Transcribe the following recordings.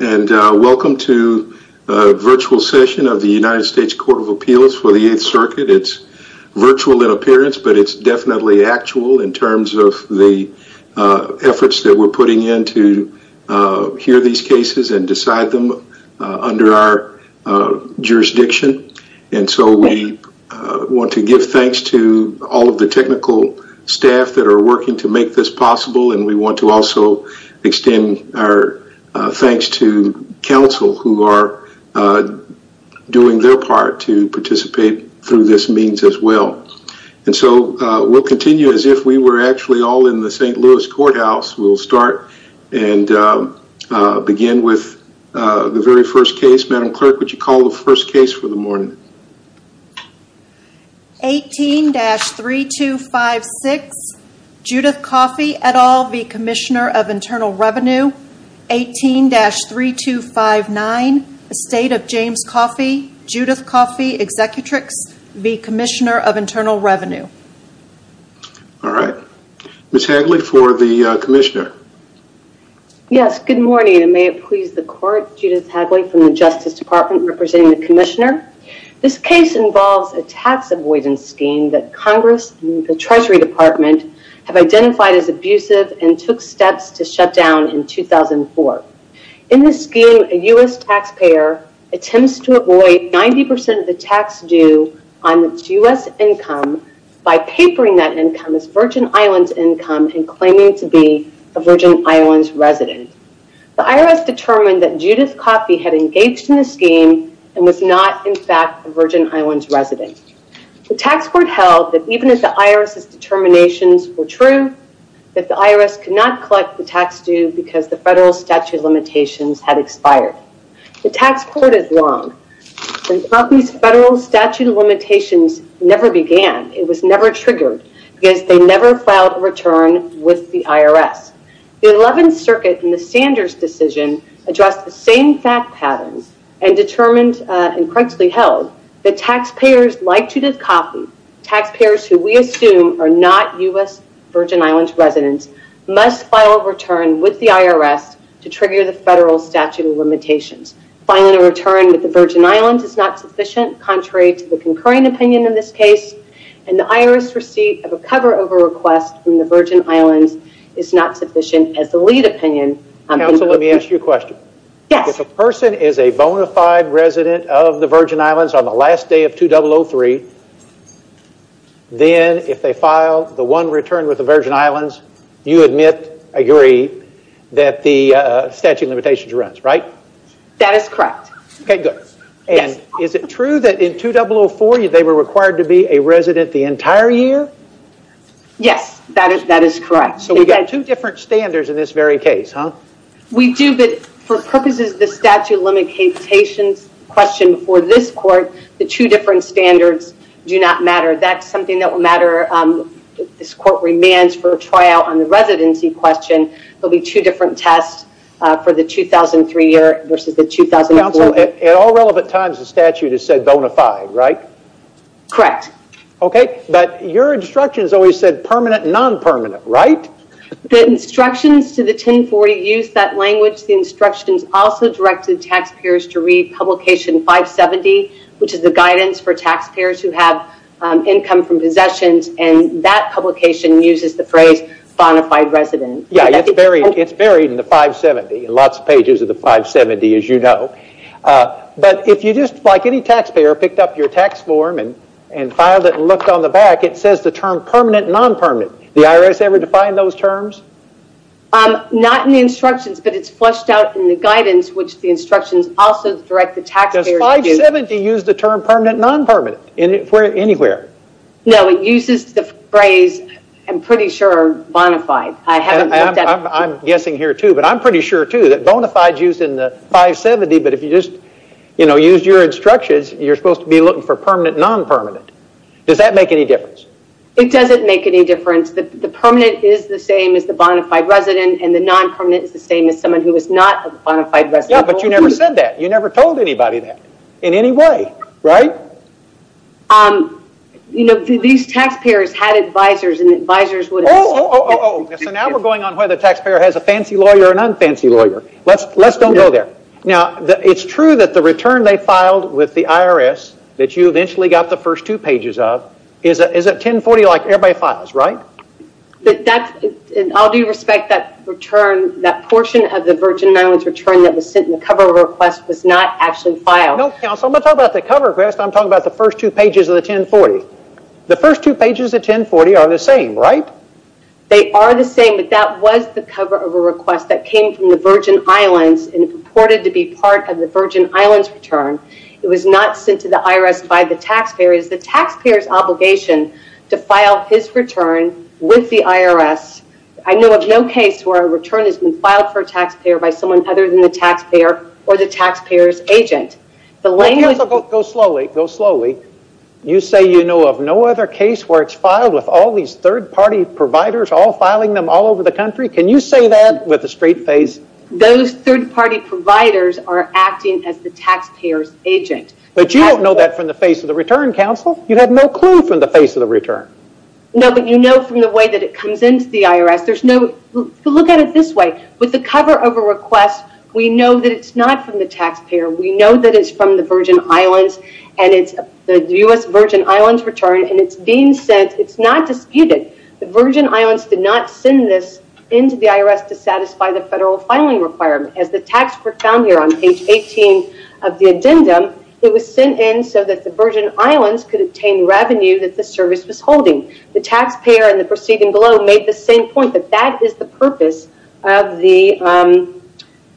And welcome to a virtual session of the United States Court of Appeals for the Eighth Circuit. It's virtual in appearance, but it's definitely actual in terms of the efforts that we're putting in to hear these cases and decide them under our jurisdiction. And so we want to give thanks to all of the technical staff that are working to make this possible. And we want to also extend our thanks to counsel who are doing their part to participate through this means as well. And so we'll continue as if we were actually all in the St. Louis Courthouse. We'll start and begin with the very first case. Madam Clerk, would you call the first case for the morning? 18-3256 Judith Coffey et al v. Commissioner of Internal Revenue. 18-3259 Estate of James Coffey, Judith Coffey Executrix v. Commissioner of Internal Revenue. All right. Ms. Hagley for the commissioner. Yes, good morning and may it please the court, Judith Hagley from the Justice Department representing the commissioner. This case involves a tax avoidance scheme that Congress and the Treasury Department have identified as abusive and took steps to shut down in 2004. In this scheme, a U.S. taxpayer attempts to avoid 90% of the tax due on its U.S. income by papering that income as Virgin Islands income and claiming to be a Virgin Islands resident. The IRS determined that Judith Coffey had engaged in the scheme and was not, in fact, a Virgin Islands resident. The tax court held that even if the IRS's determinations were true, that the IRS could not collect the tax due because the federal statute of limitations had expired. The tax court is wrong. The federal statute of limitations never began. It was never triggered because they never filed a return with the IRS. The 11th Circuit in the Sanders decision addressed the same fact patterns and determined and correctly held that taxpayers like Judith Coffey, taxpayers who we assume are not U.S. Virgin Islands residents, must file a return with the IRS to trigger the federal statute of limitations. Filing a return with the Virgin of a cover over request from the Virgin Islands is not sufficient as the lead opinion. Counsel, let me ask you a question. If a person is a bona fide resident of the Virgin Islands on the last day of 2003, then if they file the one return with the Virgin Islands, you admit, agree, that the statute of limitations runs, right? That is correct. Okay, good. And is it true that in 2004 they were required to be a resident the entire year? Yes, that is correct. So we've got two different standards in this very case, huh? We do, but for purposes of the statute of limitations question before this court, the two different standards do not matter. That's something that will matter. This court remands for a tryout on the residency question. There'll be two different tests for the 2003 year versus the 2004. Counsel, at all relevant times, the statute has said bona fide, right? Correct. Okay, but your instructions always said permanent and non-permanent, right? The instructions to the 1040 use that language. The instructions also direct the taxpayers to read publication 570, which is the guidance for taxpayers who have income from possessions, and that publication uses the phrase bona fide resident. Yeah, it's buried in the 570, in lots of pages of the 570, as you know. But if you just, like any taxpayer, picked up your tax form and filed it and looked on the back, it says the term permanent and non-permanent. The IRS ever define those terms? Not in the instructions, but it's fleshed out in the guidance, which the instructions also direct the taxpayer to use. Does 570 use the term permanent and non-permanent anywhere? No, it uses the phrase, I'm pretty sure, bona fide. I haven't looked at it. I'm guessing here too, but I'm pretty sure too that bona fide's used in the 570, but if you just used your instructions, you're supposed to be looking for permanent, non-permanent. Does that make any difference? It doesn't make any difference. The permanent is the same as the bona fide resident, and the non-permanent is the same as someone who is not a bona fide resident. Yeah, but you never said that. You never told anybody that in any way, right? These taxpayers had advisors, and advisors would- Oh, oh, oh, oh, oh. So now we're going on whether the taxpayer has a fancy lawyer or non-fancy lawyer. Let's don't go there. Now, it's true that the return they filed with the IRS that you eventually got the first two pages of is at 1040 like everybody files, right? In all due respect, that portion of the Virgin Islands return that was sent in the cover request was not actually filed. No, counsel, I'm not talking about the cover request. I'm talking about the first two pages of the 1040. The first two pages of 1040 are the same, right? They are the same, but that was the cover of a request that came from the Virgin Islands and purported to be part of the Virgin Islands return. It was not sent to the IRS by the taxpayer. It was the taxpayer's obligation to file his return with the IRS. I know of no case where a return has been filed for a taxpayer by someone other than the taxpayer or the taxpayer's agent. The language- Go slowly. Go slowly. You say you know of no other case where it's filed with all these third-party providers all filing them all over the country? Can you say that with a straight face? Those third-party providers are acting as the taxpayer's agent. But you don't know that from the face of the return, counsel. You have no clue from the face of the return. No, but you know from the way that it comes into the IRS. There's no... Look at it this way. With the cover of a request, we know that it's not from the taxpayer. We know that it's from the Virgin Islands and it's the U.S. Virgin Islands did not send this into the IRS to satisfy the federal filing requirement. As the taxpayer found here on page 18 of the addendum, it was sent in so that the Virgin Islands could obtain revenue that the service was holding. The taxpayer and the proceeding below made the same point that that is the purpose of the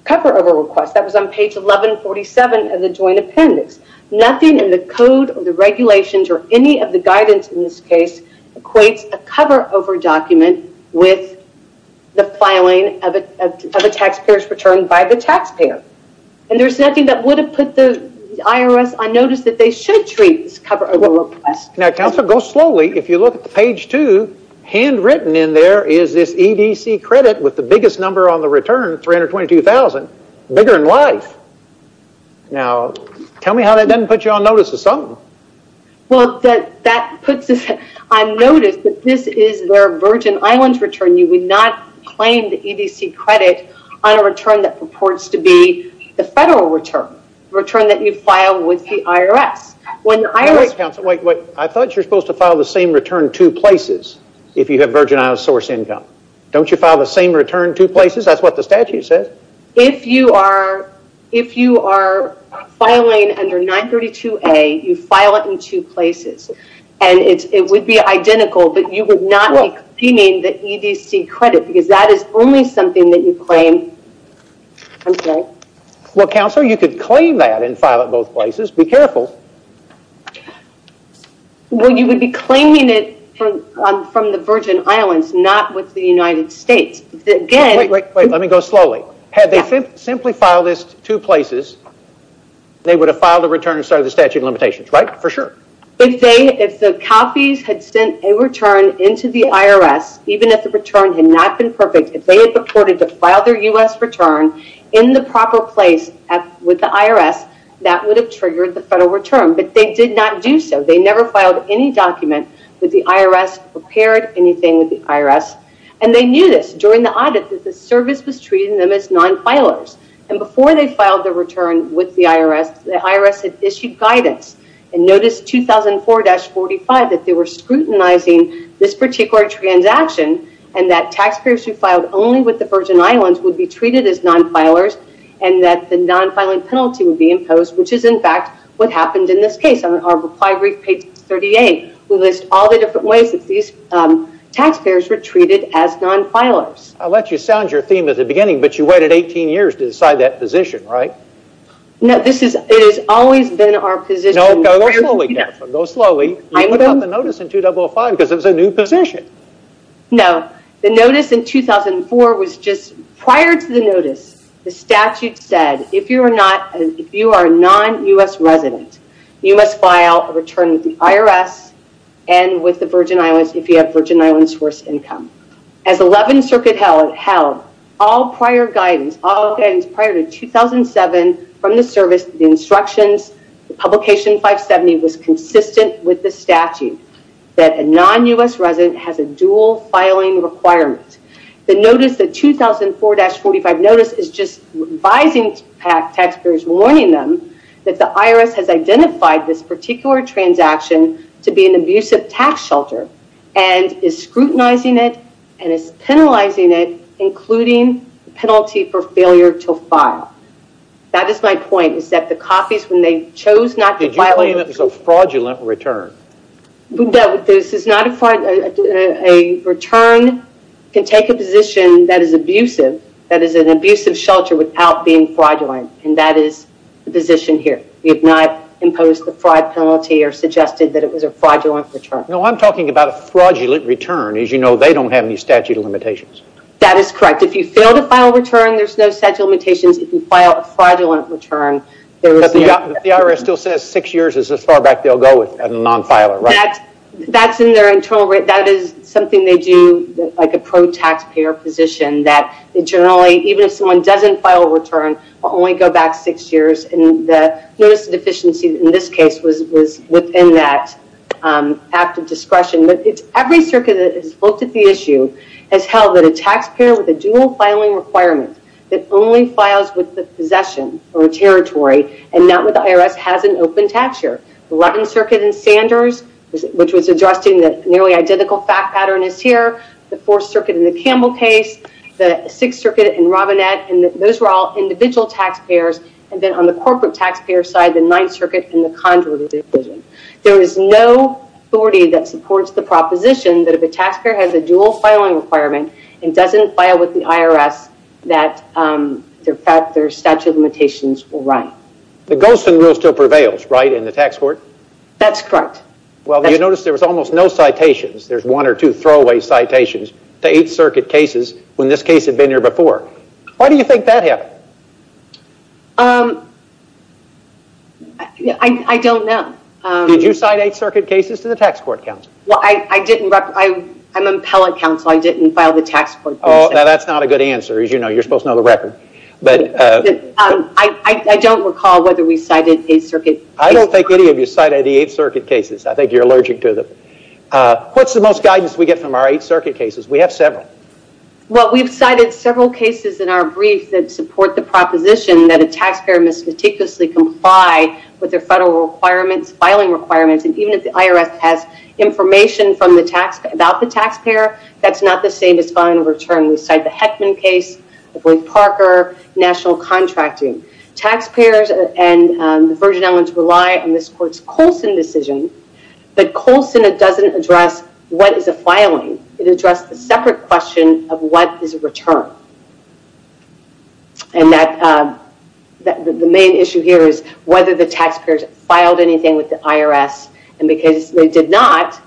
cover of a request. That was on page 1147 of the joint appendix. Nothing in the code or the regulations or any of the guidance in this case equates a cover over document with the filing of a taxpayer's return by the taxpayer. And there's nothing that would have put the IRS on notice that they should treat this cover over request. Now, counsel, go slowly. If you look at the page two, handwritten in there is this EDC credit with the biggest number on the return, 322,000, bigger in life. Now, tell me how that doesn't put you on notice of something. Well, that puts us on notice that this is their Virgin Islands return. You would not claim the EDC credit on a return that purports to be the federal return, return that you file with the IRS. Wait, wait. I thought you were supposed to file the same return two places if you have Virgin Islands source income. Don't you file the same return two places? That's what the statute says. If you are filing under 932A, you file it in two places. And it would be identical, but you would not be claiming the EDC credit because that is only something that you claim. I'm sorry. Well, counsel, you could claim that and file it both places. Be careful. Well, you would be claiming it from the Virgin Islands, not with the United States. Wait, wait, wait. Let me go slowly. Had they simply filed this two places, they would have filed a return inside of the statute of limitations, right? For sure. If the copies had sent a return into the IRS, even if the return had not been perfect, if they had purported to file their U.S. return in the proper place with the IRS, that would have triggered the federal return. But they did not do so. They never filed any document with the IRS, prepared anything with the IRS. And they knew this during the audit that the service was treating them as non-filers. And before they filed the return with the IRS, the IRS had issued guidance. And notice 2004-45 that they were scrutinizing this particular transaction and that taxpayers who filed only with the Virgin Islands would be treated as non-filers and that the non-filing penalty would be imposed, which is in fact what happened in this case on our reply brief page 38. We list all the different ways that these taxpayers were treated as non-filers. I'll let you sound your theme at the beginning, but you waited 18 years to decide that position, right? No, this is, it has always been our position. No, go slowly, Catherine. Go slowly. You put out the notice in 2005 because it was a new position. No, the notice in 2004 was just, prior to the notice, the statute said, if you are a non-U.S. resident, you must file a return with the IRS and with the Virgin Islands if you have Virgin Islands source income. As 11th Circuit held, all prior guidance, all guidance prior to 2007 from the service, the instructions, the publication 570 was consistent with the statute that a non-U.S. resident has a dual filing requirement. The notice, the 2004-45 notice, is just advising taxpayers, warning them that the IRS has identified this particular transaction to be an abusive tax shelter and is scrutinizing it and is penalizing it, including the penalty for failure to file. That is my point, is that the copies, when they chose not to file- Did you claim it was a fraudulent return? No, this is not a fraud. A return can take a position that is abusive, that is an abusive shelter without being fraudulent, and that is the position here. We have not imposed the fraud penalty or suggested that it was a fraudulent return. No, I'm talking about a fraudulent return. As you know, they don't have any statute of limitations. That is correct. If you fail to file a return, there's no statute of limitations. If you file a fraudulent return- The IRS still says six years is as far back they'll go with a non-filer, right? That's in their internal- That is something they do, like a pro-taxpayer position, that generally, even if someone doesn't file a return, will only go back six years, and the notice of deficiency in this case was within that active discretion. Every circuit that has looked at the issue has held that a taxpayer with a dual filing requirement that only files with the possession or a territory and not with the IRS has an open tax year. The 11th Circuit in Sanders, which was addressing the nearly identical fact pattern as here, the Fourth Circuit in the Campbell case, the Sixth Circuit in Robinette, and those were all individual taxpayers, and then on the corporate taxpayer side, the Ninth Circuit and the Condor Division. There is no authority that supports the proposition that if a taxpayer has a dual filing requirement and doesn't file with the IRS, that their statute of limitations will run. The Golston Rule still prevails, right, in the tax court? That's correct. Well, you notice there was almost no citations, there's one or two throwaway citations, to Eighth Circuit cases when this case had been here before. Why do you think that happened? I don't know. Did you cite Eighth Circuit cases to the tax court counsel? Well, I'm an appellate counsel, I didn't file the tax court case. Oh, now that's not a good answer. As you know, you're supposed to know the record. I don't recall whether we cited Eighth Circuit cases. I don't think any of you cited the Eighth Circuit cases. I think you're allergic to them. What's the most guidance we get from our Eighth Circuit cases? We have several. Well, we've cited several cases in our brief that support the proposition that a taxpayer must meticulously comply with their federal requirements, filing requirements, and even if the IRS has information about the taxpayer, that's not the same as filing a return. We cite the Heckman case, Roy Parker, national contracting. Taxpayers and the Virgin Islands rely on this court's Coulson decision, but Coulson doesn't address what is a filing. It addressed the separate question of what is a return. And that the main issue here is whether the taxpayers filed anything with the IRS, and because they did not,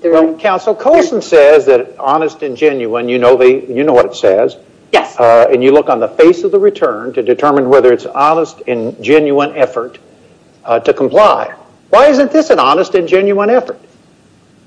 they're- Well, counsel, Coulson says that honest and genuine, you know what it says. Yes. And you look on the face of the return to determine whether it's honest and genuine effort to comply. Why isn't this an honest and genuine effort?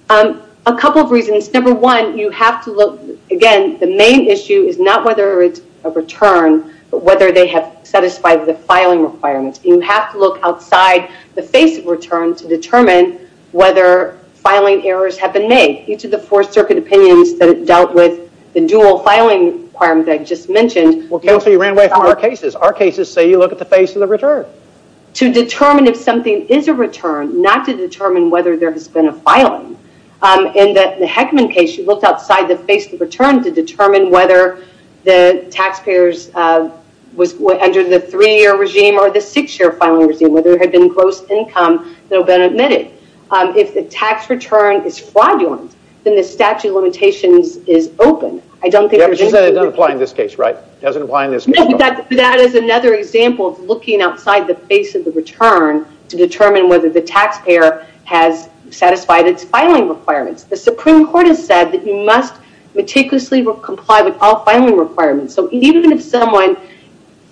A couple of reasons. Number one, you have to look, again, the main issue is not whether it's a return, but whether they have satisfied the filing requirements. You have to look outside the face of return to determine whether filing errors have been made. Each of the four circuit opinions that dealt with the dual filing requirements I just mentioned- Well, counsel, you ran away from our cases. Our cases say you look at the face of the return. To determine if something is a return, not to determine whether there has been a filing. In the Heckman case, you looked outside the face of the return to determine whether the taxpayers was under the three-year regime or the six-year filing regime, whether there had been gross income that had been admitted. If the tax return is fraudulent, then the statute of limitations is open. I don't think- Yeah, but she said it doesn't apply in this case, right? It doesn't apply in this case. That is another example of looking outside the face of the return to determine whether the taxpayer has satisfied its filing requirements. The Supreme Court has said that you must meticulously comply with all filing requirements. So even if someone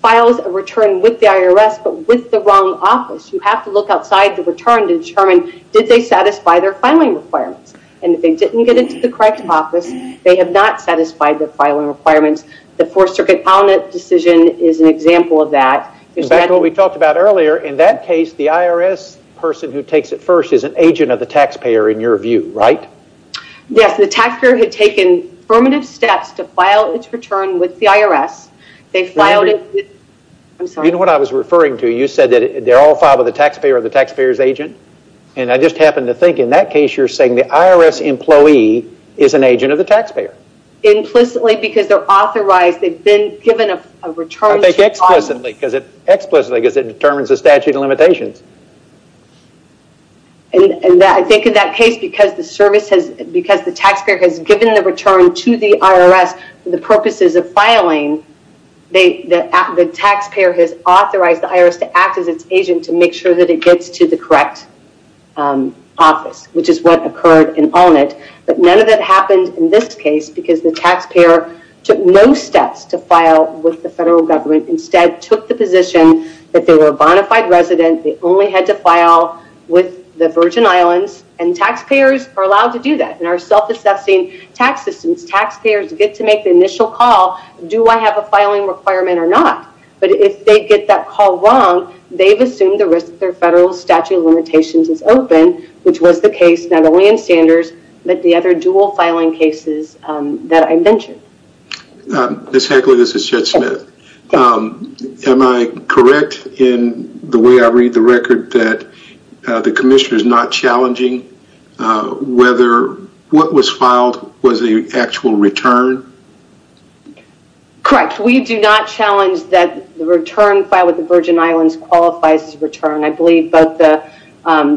files a return with the IRS, but with the wrong office, you have to look outside the return to determine did they satisfy their filing requirements. And if they didn't get into the correct office, they have not satisfied their filing requirements. The four circuit decision is an example of that. In fact, what we talked about earlier, in that case, the IRS person who takes it first is an agent of the taxpayer in your view, right? Yes. The taxpayer had taken affirmative steps to file its return with the IRS. They filed it with- I'm sorry. You know what I was referring to? You said that they're all filed with the taxpayer or the taxpayer's agent. And I just happened to think in that case, you're saying the IRS employee is an agent of the taxpayer. Implicitly because they're authorized. They've been given a return- Explicitly because it determines the statute of limitations. And I think in that case, because the taxpayer has given the return to the IRS for the purposes of filing, the taxpayer has authorized the IRS to act as its agent to make sure that it gets to the correct office, which is what occurred in Allnett. Took no steps to file with the federal government. Instead, took the position that they were a bona fide resident. They only had to file with the Virgin Islands. And taxpayers are allowed to do that in our self-assessing tax systems. Taxpayers get to make the initial call. Do I have a filing requirement or not? But if they get that call wrong, they've assumed the risk of their federal statute of limitations is open, which was the case not only in Sanders, but the other dual filing cases that I mentioned. Ms. Heckley, this is Chet Smith. Am I correct in the way I read the record that the commissioner is not challenging whether what was filed was the actual return? Correct. We do not challenge that the return filed with the Virgin Islands qualifies as a return. I believe both the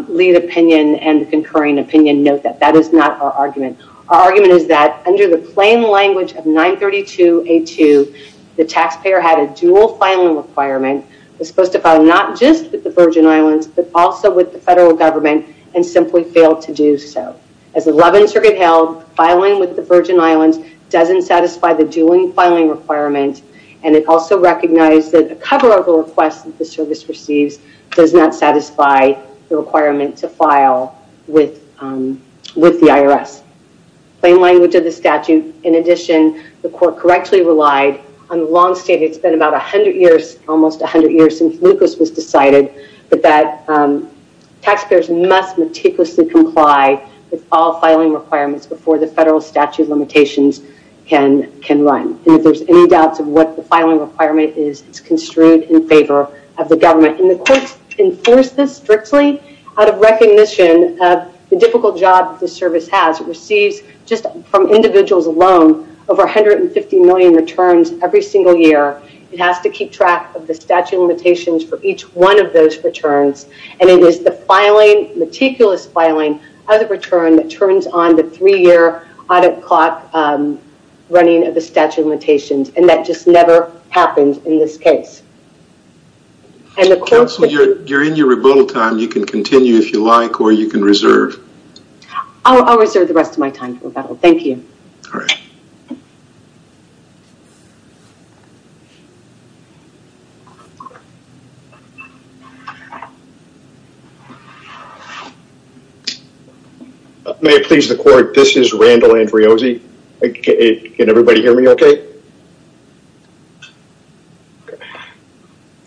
lead opinion and the concurring opinion note that that is not our argument. Our argument is that under the plain language of 932A2, the taxpayer had a dual filing requirement. Was supposed to file not just with the Virgin Islands, but also with the federal government and simply failed to do so. As 11th Circuit held, filing with the Virgin Islands doesn't satisfy the dual filing requirement. And it also recognized that a cover of the request that the service receives does not satisfy the requirement to file with the IRS. Plain language of the statute. In addition, the court correctly relied on the long state. It's been about 100 years, almost 100 years since Lucas was decided that taxpayers must meticulously comply with all filing requirements before the federal statute of limitations can run. And if there's any doubts of what the filing requirement is, it's construed in favor of the government. And the courts enforce this strictly out of recognition of the difficult job the service has. It receives, just from individuals alone, over 150 million returns every single year. It has to keep track of the statute of limitations for each one of those returns. And it is the filing, meticulous filing, of the return that turns on the three-year audit clock running of the statute of limitations. And that just never happens in this case. And the court... Counsel, you're in your rebuttal time. You can continue if you like, or you can reserve. I'll reserve the rest of my time for rebuttal. Thank you. May it please the court, this is Randall Andreozzi. Can everybody hear me okay?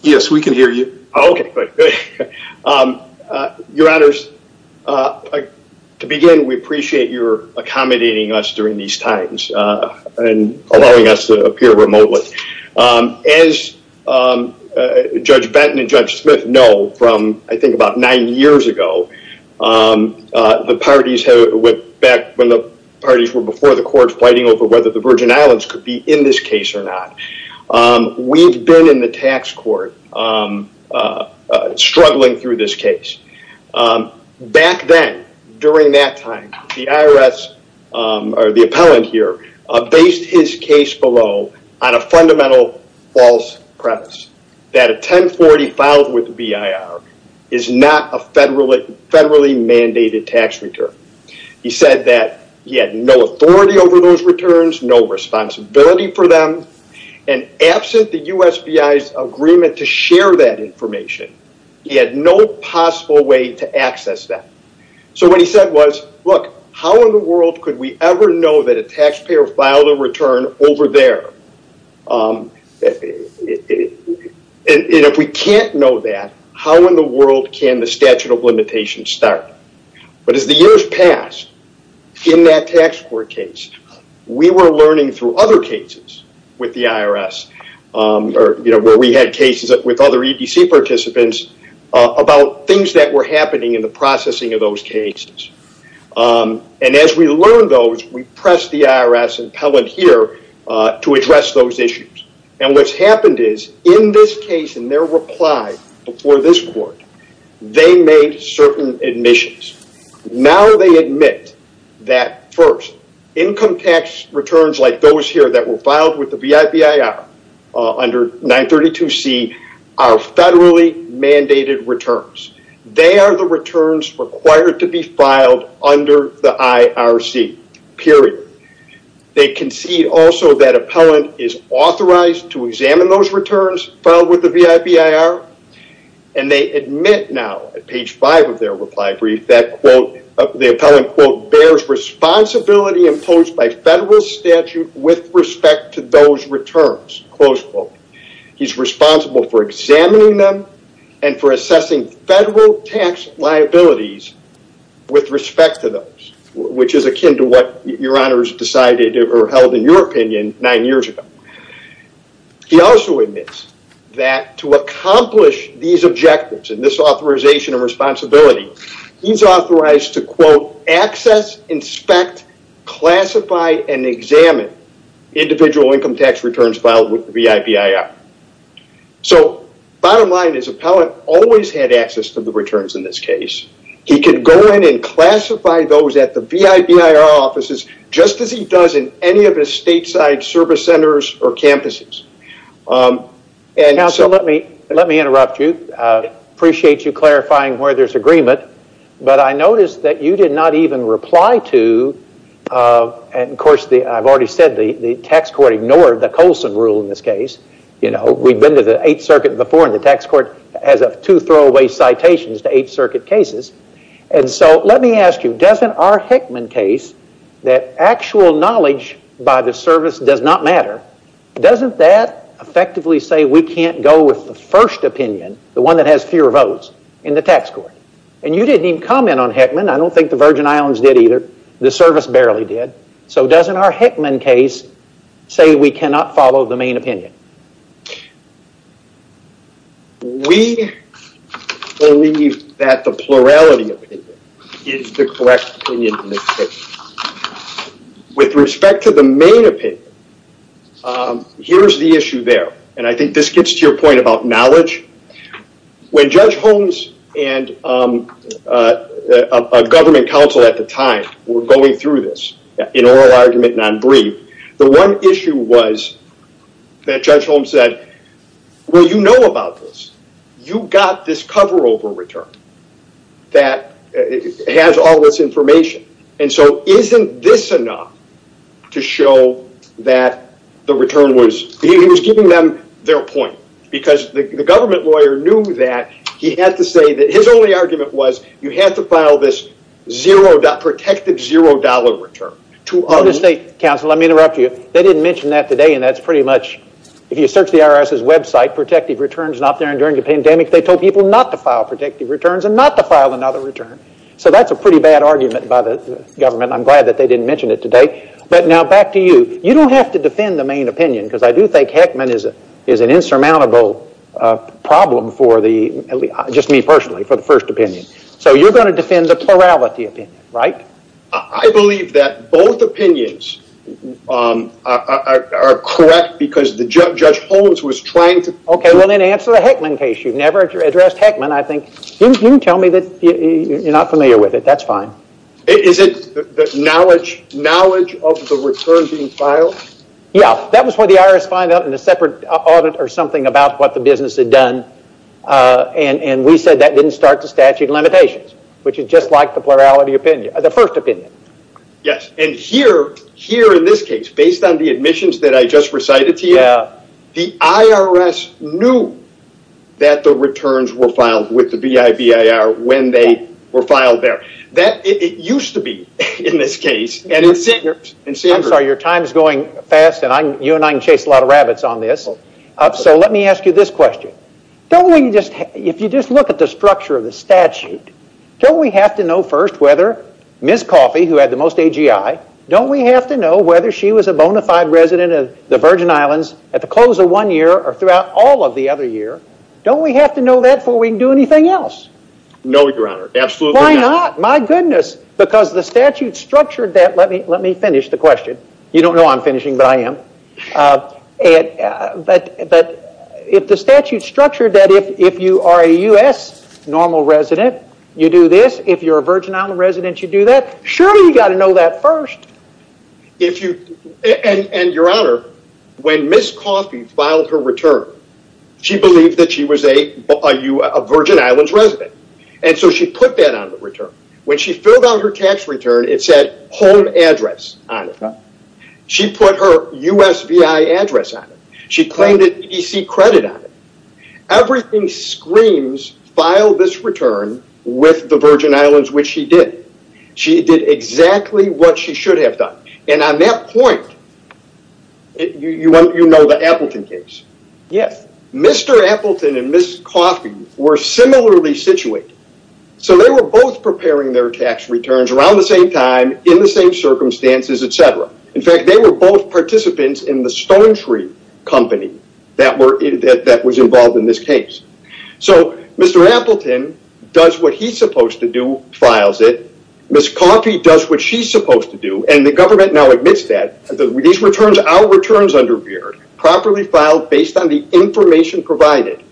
Yes, we can hear you. Okay. Your honors, to begin, we appreciate your accommodating us during these times and allowing us to appear remotely. As Judge Benton and Judge Smith know from, I think, about nine years ago, the parties went back when the parties were before the courts fighting over whether the Virgin Islands could be in this case or not. We've been in the tax court struggling through this case. Back then, during that time, the IRS, or the appellant here, based his case below on a fundamental false premise, that a 1040 filed with VIR is not a federally mandated tax return. He said that he had no authority over those returns, no responsibility for them, and absent the USBI's agreement to share that information, he had no possible way to access that. What he said was, look, how in the world could we ever know that a taxpayer filed a return over there? If we can't know that, how in the world can the statute of limitations start? As the years passed, in that tax court case, we were learning through other cases, the IRS, or where we had cases with other EDC participants, about things that were happening in the processing of those cases. As we learned those, we pressed the IRS appellant here to address those issues. What's happened is, in this case, in their reply before this court, they made certain admissions. Now, they admit that first, income tax returns like those here that were filed with the VIIR under 932C are federally mandated returns. They are the returns required to be filed under the IRC, period. They concede also that appellant is authorized to examine those returns filed with the VIIR. And they admit now, at page five of their reply brief, that the appellant, quote, bears responsibility imposed by federal statute with respect to those returns, close quote. He's responsible for examining them and for assessing federal tax liabilities with respect to those, which is akin to what your honors decided or held in your opinion nine years ago. He also admits that to accomplish these objectives and this authorization and responsibility, he's authorized to, quote, access, inspect, classify, and examine individual income tax returns filed with the VIIR. So bottom line is, appellant always had access to the returns in this case. He could go in and classify those at the VIIR offices, just as he does in any of his stateside service centers or campuses. And so let me interrupt you. Appreciate you clarifying where there's agreement. But I noticed that you did not even reply to, and of course, I've already said the tax court ignored the Colson rule in this case. You know, we've been to the Eighth Circuit before, and the tax court has two throwaway citations to Eighth Circuit cases. And so let me ask you, doesn't our Hickman case, that actual knowledge by the service does not matter, doesn't that effectively say we can't go with the first opinion, the one that has fewer votes, in the tax court? And you didn't even comment on Hickman. I don't think the Virgin Islands did either. The service barely did. So doesn't our Hickman case say we cannot follow the main opinion? We believe that the plurality opinion is the correct opinion in this case. Now, with respect to the main opinion, here's the issue there. And I think this gets to your point about knowledge. When Judge Holmes and a government counsel at the time were going through this, in oral argument, non-brief, the one issue was that Judge Holmes said, well, you know about this. You got this cover over return that has all this information. And so isn't this enough to show that the return was, he was giving them their point. Because the government lawyer knew that. He had to say that his only argument was, you have to file this protected zero dollar return. To other state counsel, let me interrupt you. They didn't mention that today. And that's pretty much, if you search the IRS's website, protective returns not there and during the pandemic, they told people not to file protective returns and not to file another return. So that's a pretty bad argument by the government. I'm glad that they didn't mention it today. But now back to you. You don't have to defend the main opinion because I do think Heckman is an insurmountable problem for the, just me personally, for the first opinion. So you're going to defend the plurality opinion, right? I believe that both opinions are correct because Judge Holmes was trying to. OK, well then answer the Heckman case. You've never addressed Heckman, I think. You can tell me that you're not familiar with it. That's fine. Is it the knowledge of the return being filed? Yeah. That was what the IRS find out in a separate audit or something about what the business had done. And we said that didn't start the statute of limitations, which is just like the plurality opinion, the first opinion. Yes. And here, in this case, based on the admissions that I just recited to you, the IRS knew that the returns were filed with the BIBIR when they were filed there. That, it used to be in this case, and it's in here. I'm sorry, your time is going fast and you and I can chase a lot of rabbits on this. So let me ask you this question. If you just look at the structure of the statute, don't we have to know first whether Ms. Coffey, who had the most AGI, don't we have to know whether she was a bona fide resident of the Virgin Islands at the close of one year or throughout all of the other year? Don't we have to know that before we can do anything else? No, your honor. Absolutely not. Why not? My goodness. Because the statute structured that. Let me finish the question. You don't know I'm finishing, but I am. But if the statute structured that if you are a U.S. normal resident, you do this. If you're a Virgin Island resident, you do that. Surely you got to know that first. If you, and your honor, when Ms. Coffey filed her return, she believed that she was a Virgin Islands resident. And so she put that on the return. When she filled out her tax return, it said home address on it. She put her USVI address on it. She claimed an EDC credit on it. Everything screams file this return with the Virgin Islands, which she did. She did exactly what she should have done. And on that point, you know the Appleton case? Yes. Mr. Appleton and Ms. Coffey were similarly situated. So they were both preparing their tax returns around the same time, in the same circumstances, et cetera. In fact, they were both participants in the Stone Tree company that was involved in this case. So Mr. Appleton does what he's supposed to do, files it. Ms. Coffey does what she's supposed to do. And the government now admits that. These returns, our returns under Veer, properly filed based on the information provided.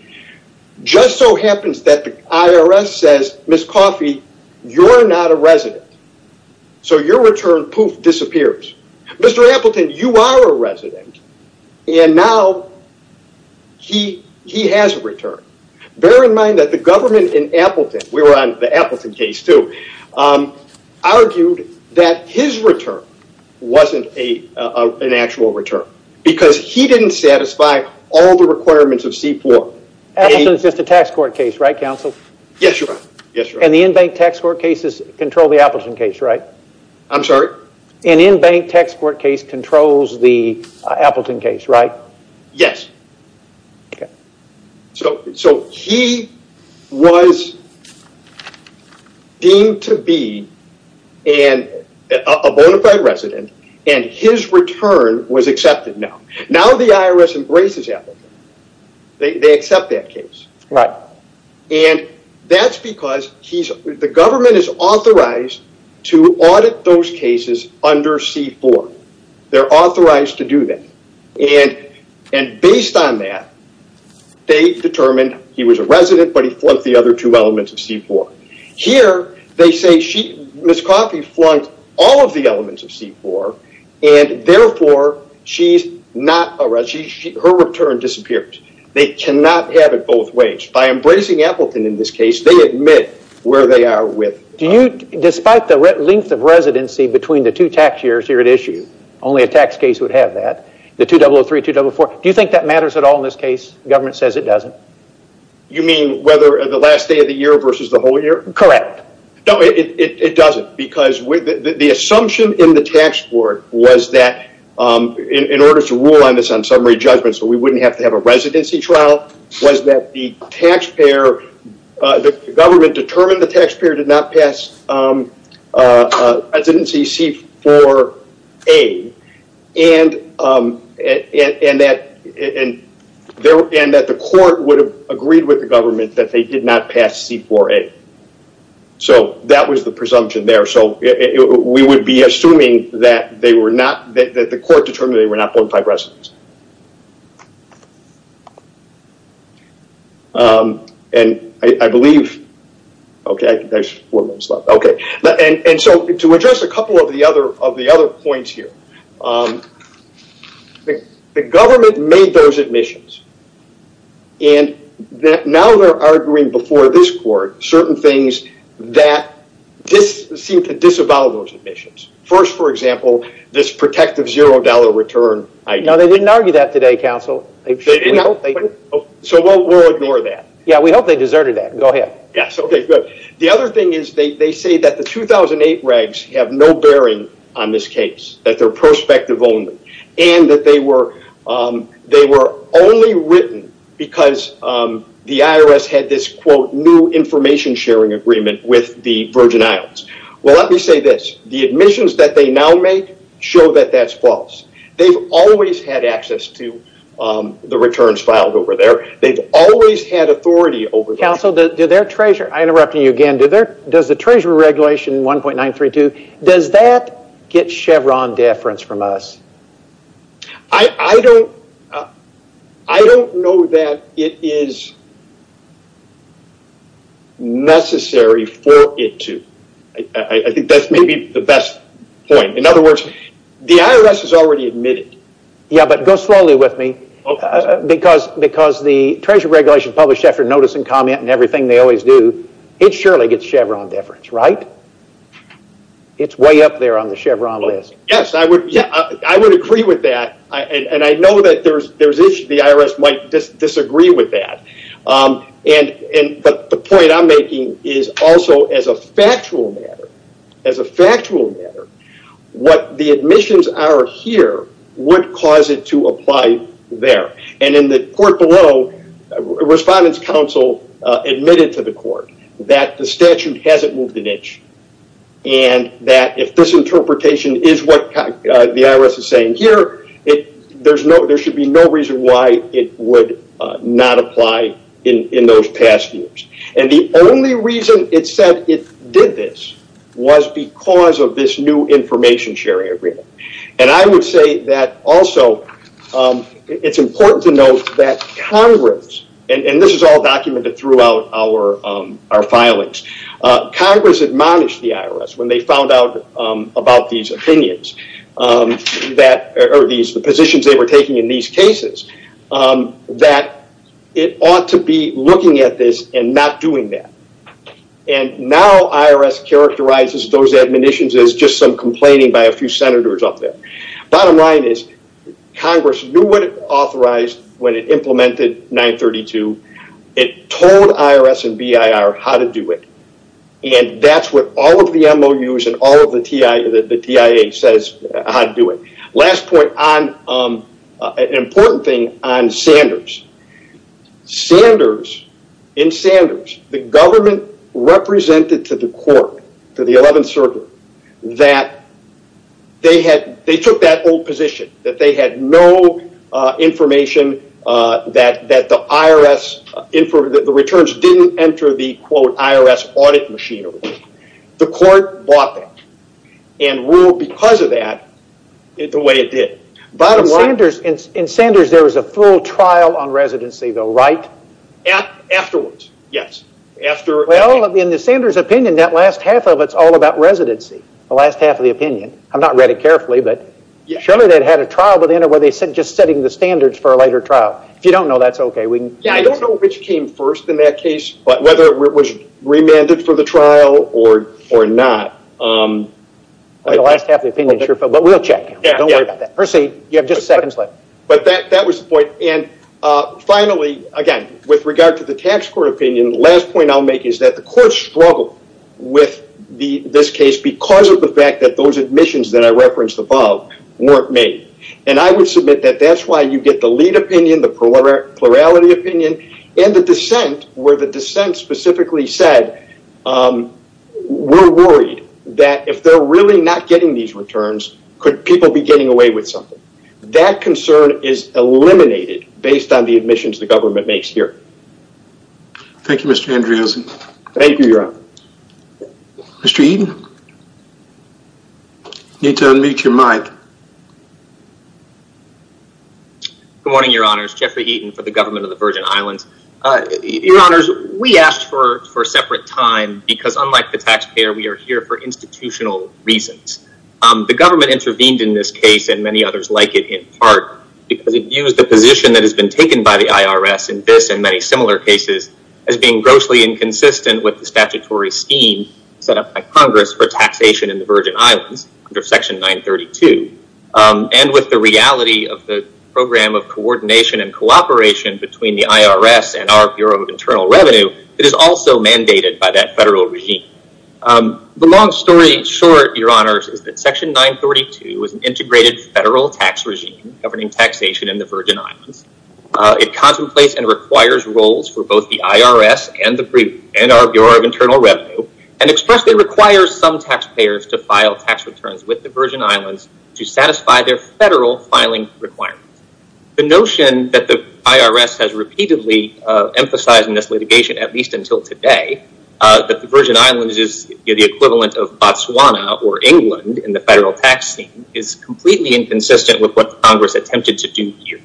Just so happens that the IRS says, Ms. Coffey, you're not a resident. So your return, poof, disappears. Mr. Appleton, you are a resident. And now he has a return. Bear in mind that the government in Appleton, we were on the Appleton case too, argued that his return wasn't an actual return. Because he didn't satisfy all the requirements of CPOR. Appleton's just a tax court case, right, counsel? Yes, your honor. Yes, your honor. And the in-bank tax court cases control the Appleton case, right? I'm sorry? An in-bank tax court case controls the Appleton case, right? Yes. So he was deemed to be a bona fide resident and his return was accepted now. Now the IRS embraces Appleton. They accept that case. Right. And that's because the government is authorized to audit those cases under CPOR. They're authorized to do that. And based on that, they determined he was a resident, but he flunked the other two elements of CPOR. Here they say Ms. Coffey flunked all of the elements of CPOR and therefore her return disappeared. They cannot have it both ways. By embracing Appleton in this case, they admit where they are with. Do you, despite the length of residency between the two tax years here at issue, only a tax case would have that, the 2003-2004. Do you think that matters at all in this case? Government says it doesn't. You mean whether the last day of the year versus the whole year? Correct. No, it doesn't because the assumption in the tax court was that in order to rule on summary judgments, we wouldn't have to have a residency trial, was that the government determined the taxpayer did not pass residency C4A and that the court would have agreed with the government that they did not pass C4A. That was the presumption there. We would be assuming that the court determined they were not bona fide residents. There's four minutes left. To address a couple of the other points here, the government made those admissions and now they're arguing before this court certain things that seem to disavow those admissions. First, for example, this protective zero dollar return. No, they didn't argue that today, counsel. So we'll ignore that. Yeah, we hope they deserted that. Go ahead. Yes, okay, good. The other thing is they say that the 2008 regs have no bearing on this case, that they're prospective only and that they were only written because the IRS had this, quote, new information sharing agreement with the Virgin Islands. Well, let me say this. The admissions that they now make show that that's false. They've always had access to the returns filed over there. They've always had authority over those. Counsel, I'm interrupting you again. Does the treasurer regulation 1.932, does that get Chevron deference from us? I don't know that it is necessary for it to. I think that's maybe the best point. In other words, the IRS has already admitted. Yeah, but go slowly with me because the treasurer regulation published after notice and comment and everything they always do, it surely gets Chevron deference, right? It's way up there on the Chevron list. Yes, I would agree with that and I know that there's issues the IRS might disagree with that, but the point I'm making is also as a factual matter, as a factual matter, what the admissions are here would cause it to apply there. In the court below, respondents counsel admitted to the court that the statute hasn't moved an inch and that if this interpretation is what the IRS is saying here, there should be no reason why it would not apply in those past years. The only reason it said it did this was because of this new information sharing agreement. I would say that also, it's important to note that Congress, and this is all documented throughout our filings, Congress admonished the IRS when they found out about these positions they were taking in these cases that it ought to be looking at this and not doing that. Now, IRS characterizes those admonitions as just some complaining by a few senators up there. Bottom line is Congress knew what it authorized when it implemented 932. It told IRS and BIR how to do it and that's what all of the MOUs and all of the TIA says how to do it. Last point, an important thing on Sanders. Sanders, in Sanders, the government represented to the court, to the 11th Circuit, that they took that old position that they had no information that the returns didn't enter the, quote, IRS audit machinery. The court bought that and ruled, because of that, the way it did. In Sanders, there was a full trial on residency, though, right? Afterwards, yes. In the Sanders opinion, that last half of it's all about residency, the last half of the opinion. I've not read it carefully, but surely they'd had a trial, but anyway, they said just setting the standards for a later trial. If you don't know, that's okay. I don't know which came first in that case, but whether it was remanded for the trial or not. The last half of the opinion, sure, but we'll check. Hersey, you have just seconds left. That was the point. Finally, again, with regard to the tax court opinion, the last point I'll make is that the court struggled with this case because of the fact that those admissions that I referenced above weren't made. I would submit that that's why you get the lead opinion, the plurality opinion, and the dissent, where the dissent specifically said, we're worried that if they're really not getting these returns, could people be getting away with something? That concern is eliminated based on the admissions the government makes here. Thank you, Mr. Andriozzi. Thank you, Your Honor. Mr. Eaton, I need to unmute your mic. Good morning, Your Honors. Jeffrey Eaton for the government of the Virgin Islands. Your Honors, we asked for a separate time because unlike the taxpayer, we are here for institutional reasons. The government intervened in this case and many others like it in part because it views the position that has been taken by the IRS in this and many similar cases as being grossly inconsistent with the statutory scheme set up by Congress for taxation in the Virgin Islands, Section 932. With the reality of the program of coordination and cooperation between the IRS and our Bureau of Internal Revenue, it is also mandated by that federal regime. The long story short, Your Honors, is that Section 932 is an integrated federal tax regime governing taxation in the Virgin Islands. It contemplates and requires roles for both the IRS and our Bureau of Internal Revenue and expressly requires some taxpayers to file tax returns with the Virgin Islands to satisfy their federal filing requirements. The notion that the IRS has repeatedly emphasized in this litigation, at least until today, that the Virgin Islands is the equivalent of Botswana or England in the federal tax scheme is completely inconsistent with what Congress attempted to do here.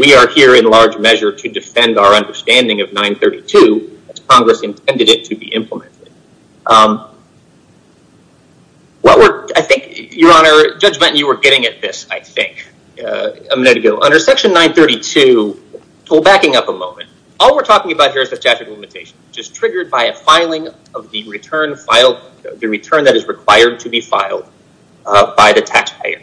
We are here in large measure to defend our understanding of 932 as Congress intended it to be implemented. I think, Your Honor, Judge Benton, you were getting at this, I think, a minute ago. Under Section 932, backing up a moment, all we're talking about here is the statutory limitation, which is triggered by a filing of the return that is required to be filed by the taxpayer.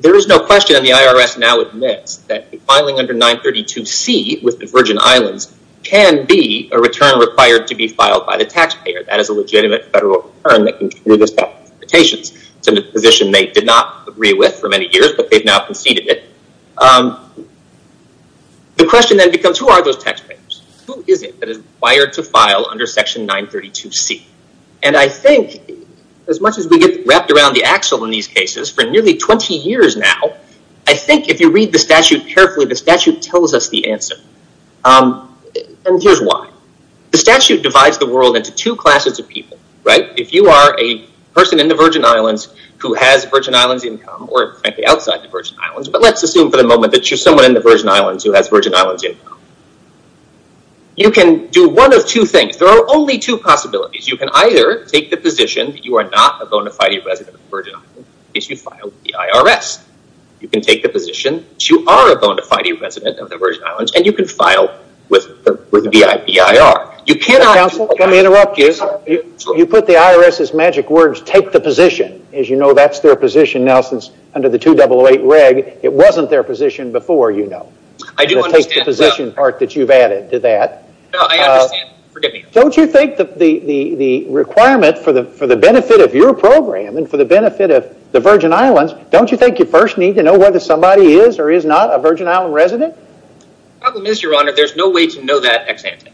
There is no question and the IRS now admits that the filing under 932C with the Virgin Islands is required to be filed by the taxpayer. That is a legitimate federal return that can trigger those tax limitations. It's a position they did not agree with for many years, but they've now conceded it. The question then becomes, who are those taxpayers? Who is it that is required to file under Section 932C? I think, as much as we get wrapped around the axle in these cases, for nearly 20 years now, I think if you read the statute carefully, the statute tells us the answer. And here's why. The statute divides the world into two classes of people, right? If you are a person in the Virgin Islands who has Virgin Islands income, or outside the Virgin Islands, but let's assume for the moment that you're someone in the Virgin Islands who has Virgin Islands income, you can do one of two things. There are only two possibilities. You can either take the position that you are not a bona fide resident of the Virgin Islands, in case you file with the IRS. You can take the position that you are a bona fide resident of the Virgin Islands, and you can file with the BIR. You cannot- Counsel, let me interrupt you. You put the IRS's magic words, take the position. As you know, that's their position now, since under the 2008 reg, it wasn't their position before, you know. I do understand. Take the position part that you've added to that. No, I understand. Forgive me. Don't you think the requirement for the benefit of your program, and for the benefit of the Virgin Islands, don't you think you first need to know whether somebody is or is not a Virgin Island resident? The problem is, your honor, there's no way to know that ex-ante.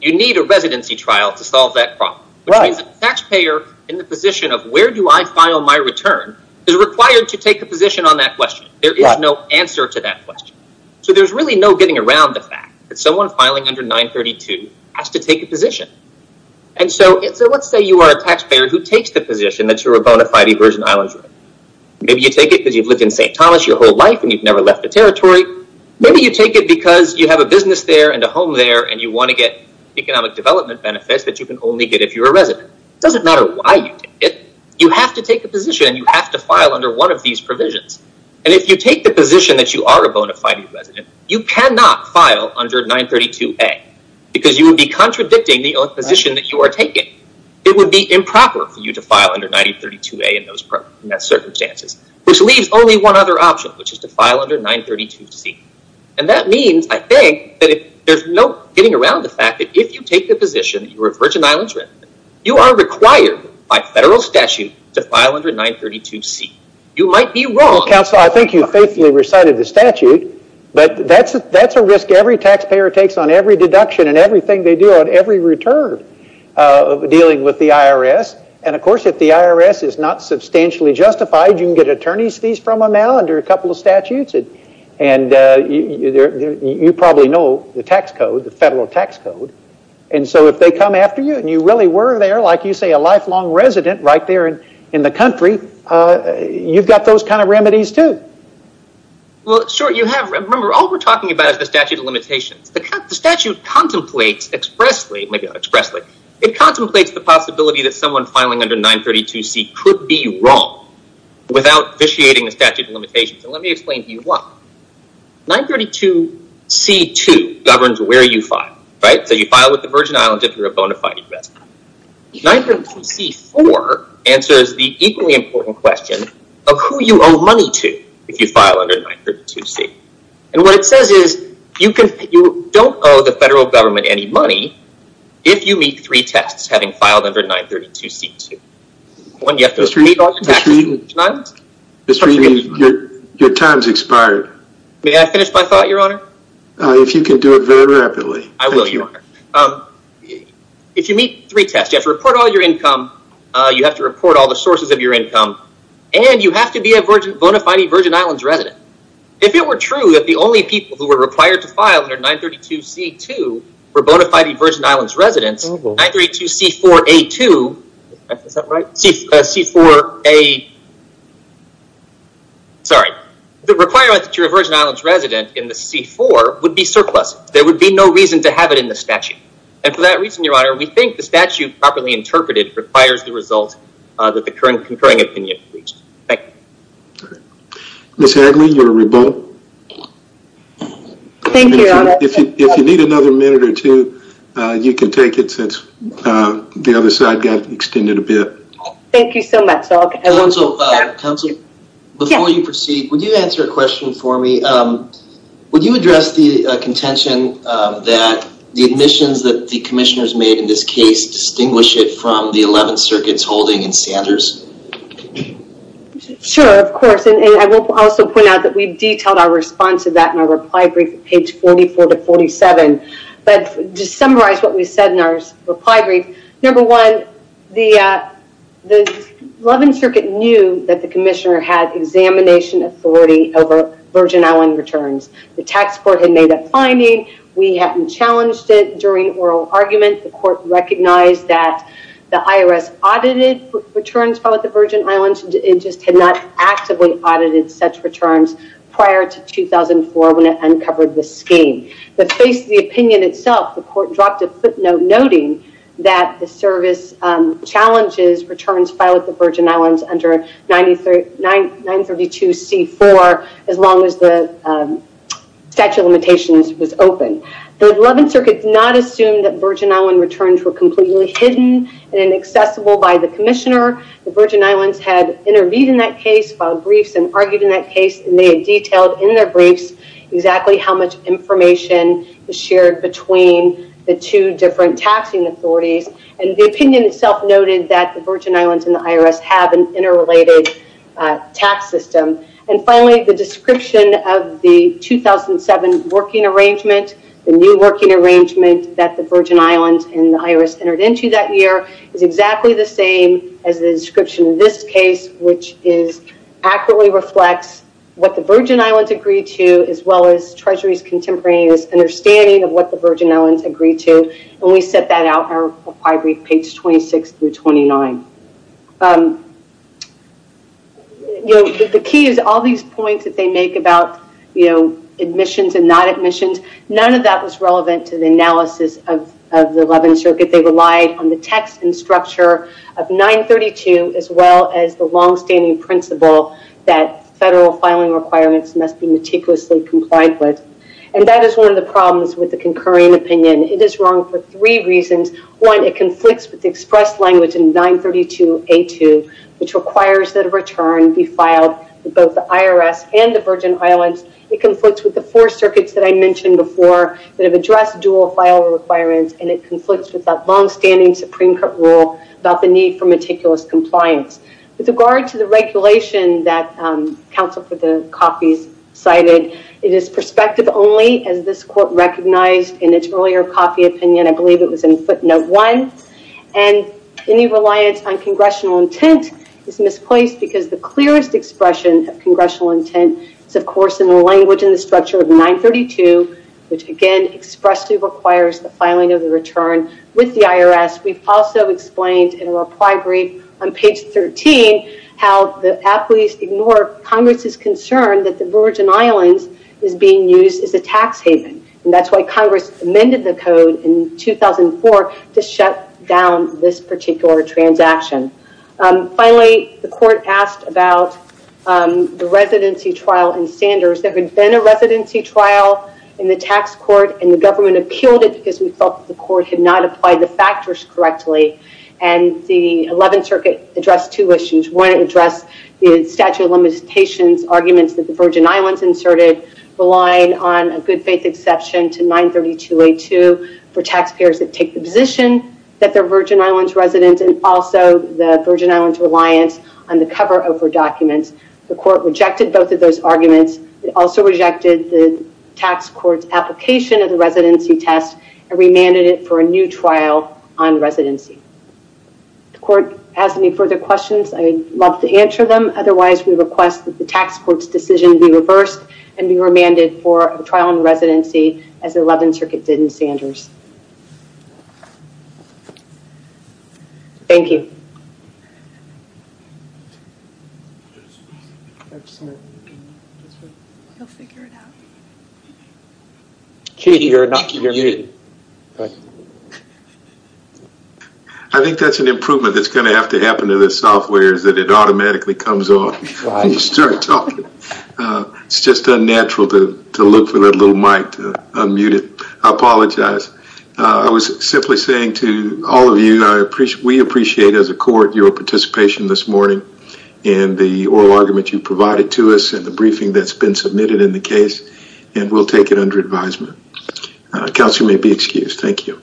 You need a residency trial to solve that problem, which means a taxpayer in the position of, where do I file my return, is required to take a position on that question. There is no answer to that question. So there's really no getting around the fact that someone filing under 932 has to take a position. And so, let's say you are a taxpayer who takes the position that you're a bona fide Virgin Islands resident. Maybe you take it because you've lived in St. Thomas your whole life, and you've never left the territory. Maybe you take it because you have a business there and a home there, and you want to get economic development benefits that you can only get if you're a resident. It doesn't matter why you take it. You have to take a position, and you have to file under one of these provisions. And if you take the position that you are a bona fide resident, you cannot file under 932A, because you would be contradicting the position that you are taking. It would be improper for you to file under 932A in those circumstances, which leaves only one other option, which is to file under 932C. And that means, I think, that there's no getting around the fact that if you take the position that you're a Virgin Islands resident, you are required by federal statute to file under 932C. You might be wrong. Counselor, I think you faithfully recited the statute, but that's a risk every taxpayer takes on every deduction and everything they do on every return dealing with the IRS. And of course, if the IRS is not substantially justified, you can get attorney's fees from them now under a couple of statutes. And you probably know the tax code, the federal tax code. And so if they come after you, and you really were there, like you say, a lifelong resident right there in the country, you've got those kind of remedies too. Well, sure, you have. Remember, all we're talking about is the statute of limitations. The statute contemplates expressly, maybe not expressly, it contemplates the possibility that someone filing under 932C could be wrong without vitiating the statute of limitations. And let me explain to you why. 932C2 governs where you file, right? So you file with the Virgin Islands if you're a bona fide resident. 932C4 answers the equally important question of who you owe money to if you file under 932C. And what it says is you don't owe the federal government any money if you meet three tests, having filed under 932C2. One, you have to meet all the taxes of the Virgin Islands. Mr. Ewing, your time's expired. May I finish my thought, your honor? If you can do it very rapidly. I will, your honor. If you meet three tests, you have to report all your income, you have to report all the sources of your income, and you have to be a bona fide Virgin Islands resident. If it were true that the only people who were required to file under 932C2 were bona fide Virgin Islands residents, 932C4A2, is that right? C4A, sorry. The requirement that you're a Virgin Islands resident in the C4 would be surplus. There would be no reason to have it in the statute. And for that reason, your honor, we think the statute properly interpreted requires the result that the current concurring opinion reached. Thank you. Thank you, your honor. If you need another minute or two, you can take it since the other side got extended a bit. Thank you so much. Counsel, before you proceed, would you answer a question for me? Would you address the contention that the admissions that the commissioners made in this case distinguish it from the 11 circuits holding in Sanders? Sure, of course. And I will also point out that we've detailed our response to that in our reply brief at 44 to 47. But to summarize what we said in our reply brief, number one, the 11 circuit knew that the commissioner had examination authority over Virgin Island returns. The tax court had made a finding. We hadn't challenged it during oral argument. The court recognized that the IRS audited returns about the Virgin Islands. It just had not actively audited such returns prior to 2004 when it uncovered the scheme. But faced the opinion itself, the court dropped a footnote noting that the service challenges returns filed at the Virgin Islands under 932C4 as long as the statute of limitations was open. The 11 circuit did not assume that Virgin Island returns were completely hidden and accessible by the commissioner. The Virgin Islands had intervened in that case, filed briefs and argued in that case and they had detailed in their briefs exactly how much information was shared between the two different taxing authorities. And the opinion itself noted that the Virgin Islands and the IRS have an interrelated tax system. And finally, the description of the 2007 working arrangement, the new working arrangement that the Virgin Islands and the IRS entered into that year is exactly the same as the description of this case, which accurately reflects what the Virgin Islands agreed to as well as Treasury's contemporaneous understanding of what the Virgin Islands agreed to. And we set that out in our required brief, page 26 through 29. The key is all these points that they make about admissions and not admissions, none of that was relevant to the analysis of the 11 circuit. They relied on the text and structure of 932 as well as the longstanding principle that federal filing requirements must be meticulously complied with. And that is one of the problems with the concurring opinion. It is wrong for three reasons. One, it conflicts with the express language in 932A2, which requires that a return be filed with both the IRS and the Virgin Islands. It conflicts with the four circuits that I mentioned before that have addressed dual file requirements and it conflicts with that longstanding Supreme Court rule about the need for meticulous compliance. With regard to the regulation that counsel for the copies cited, it is perspective only as this court recognized in its earlier copy opinion, I believe it was in footnote one, and any reliance on congressional intent is misplaced because the clearest expression of congressional intent is, of course, in the language and the structure of 932, which again expressly requires the filing of the return with the IRS. We've also explained in a reply brief on page 13 how the athletes ignore Congress's concern that the Virgin Islands is being used as a tax haven. And that's why Congress amended the code in 2004 to shut down this particular transaction. Finally, the court asked about the residency trial in Sanders. There had been a residency trial in the tax court and the government appealed it because we felt the court had not applied the factors correctly and the 11th Circuit addressed two issues. One, it addressed the statute of limitations arguments that the Virgin Islands inserted relying on a good faith exception to 932A2 for taxpayers that take the position that the Virgin Islands reliance on the cover over documents. The court rejected both of those arguments. It also rejected the tax court's application of the residency test and remanded it for a new trial on residency. The court has any further questions, I would love to answer them. Otherwise, we request that the tax court's decision be reversed and be remanded for a trial on residency as the 11th Circuit did in Sanders. Thank you. I think that's an improvement that's going to have to happen to the software is that it automatically comes on when you start talking. It's just unnatural to look for that little mic to unmute it. I apologize. I was simply saying to all of you, we appreciate as a court your participation this morning and the oral argument you provided to us and the briefing that's been submitted in the case and we'll take it under advisement. Counsel may be excused. Thank you.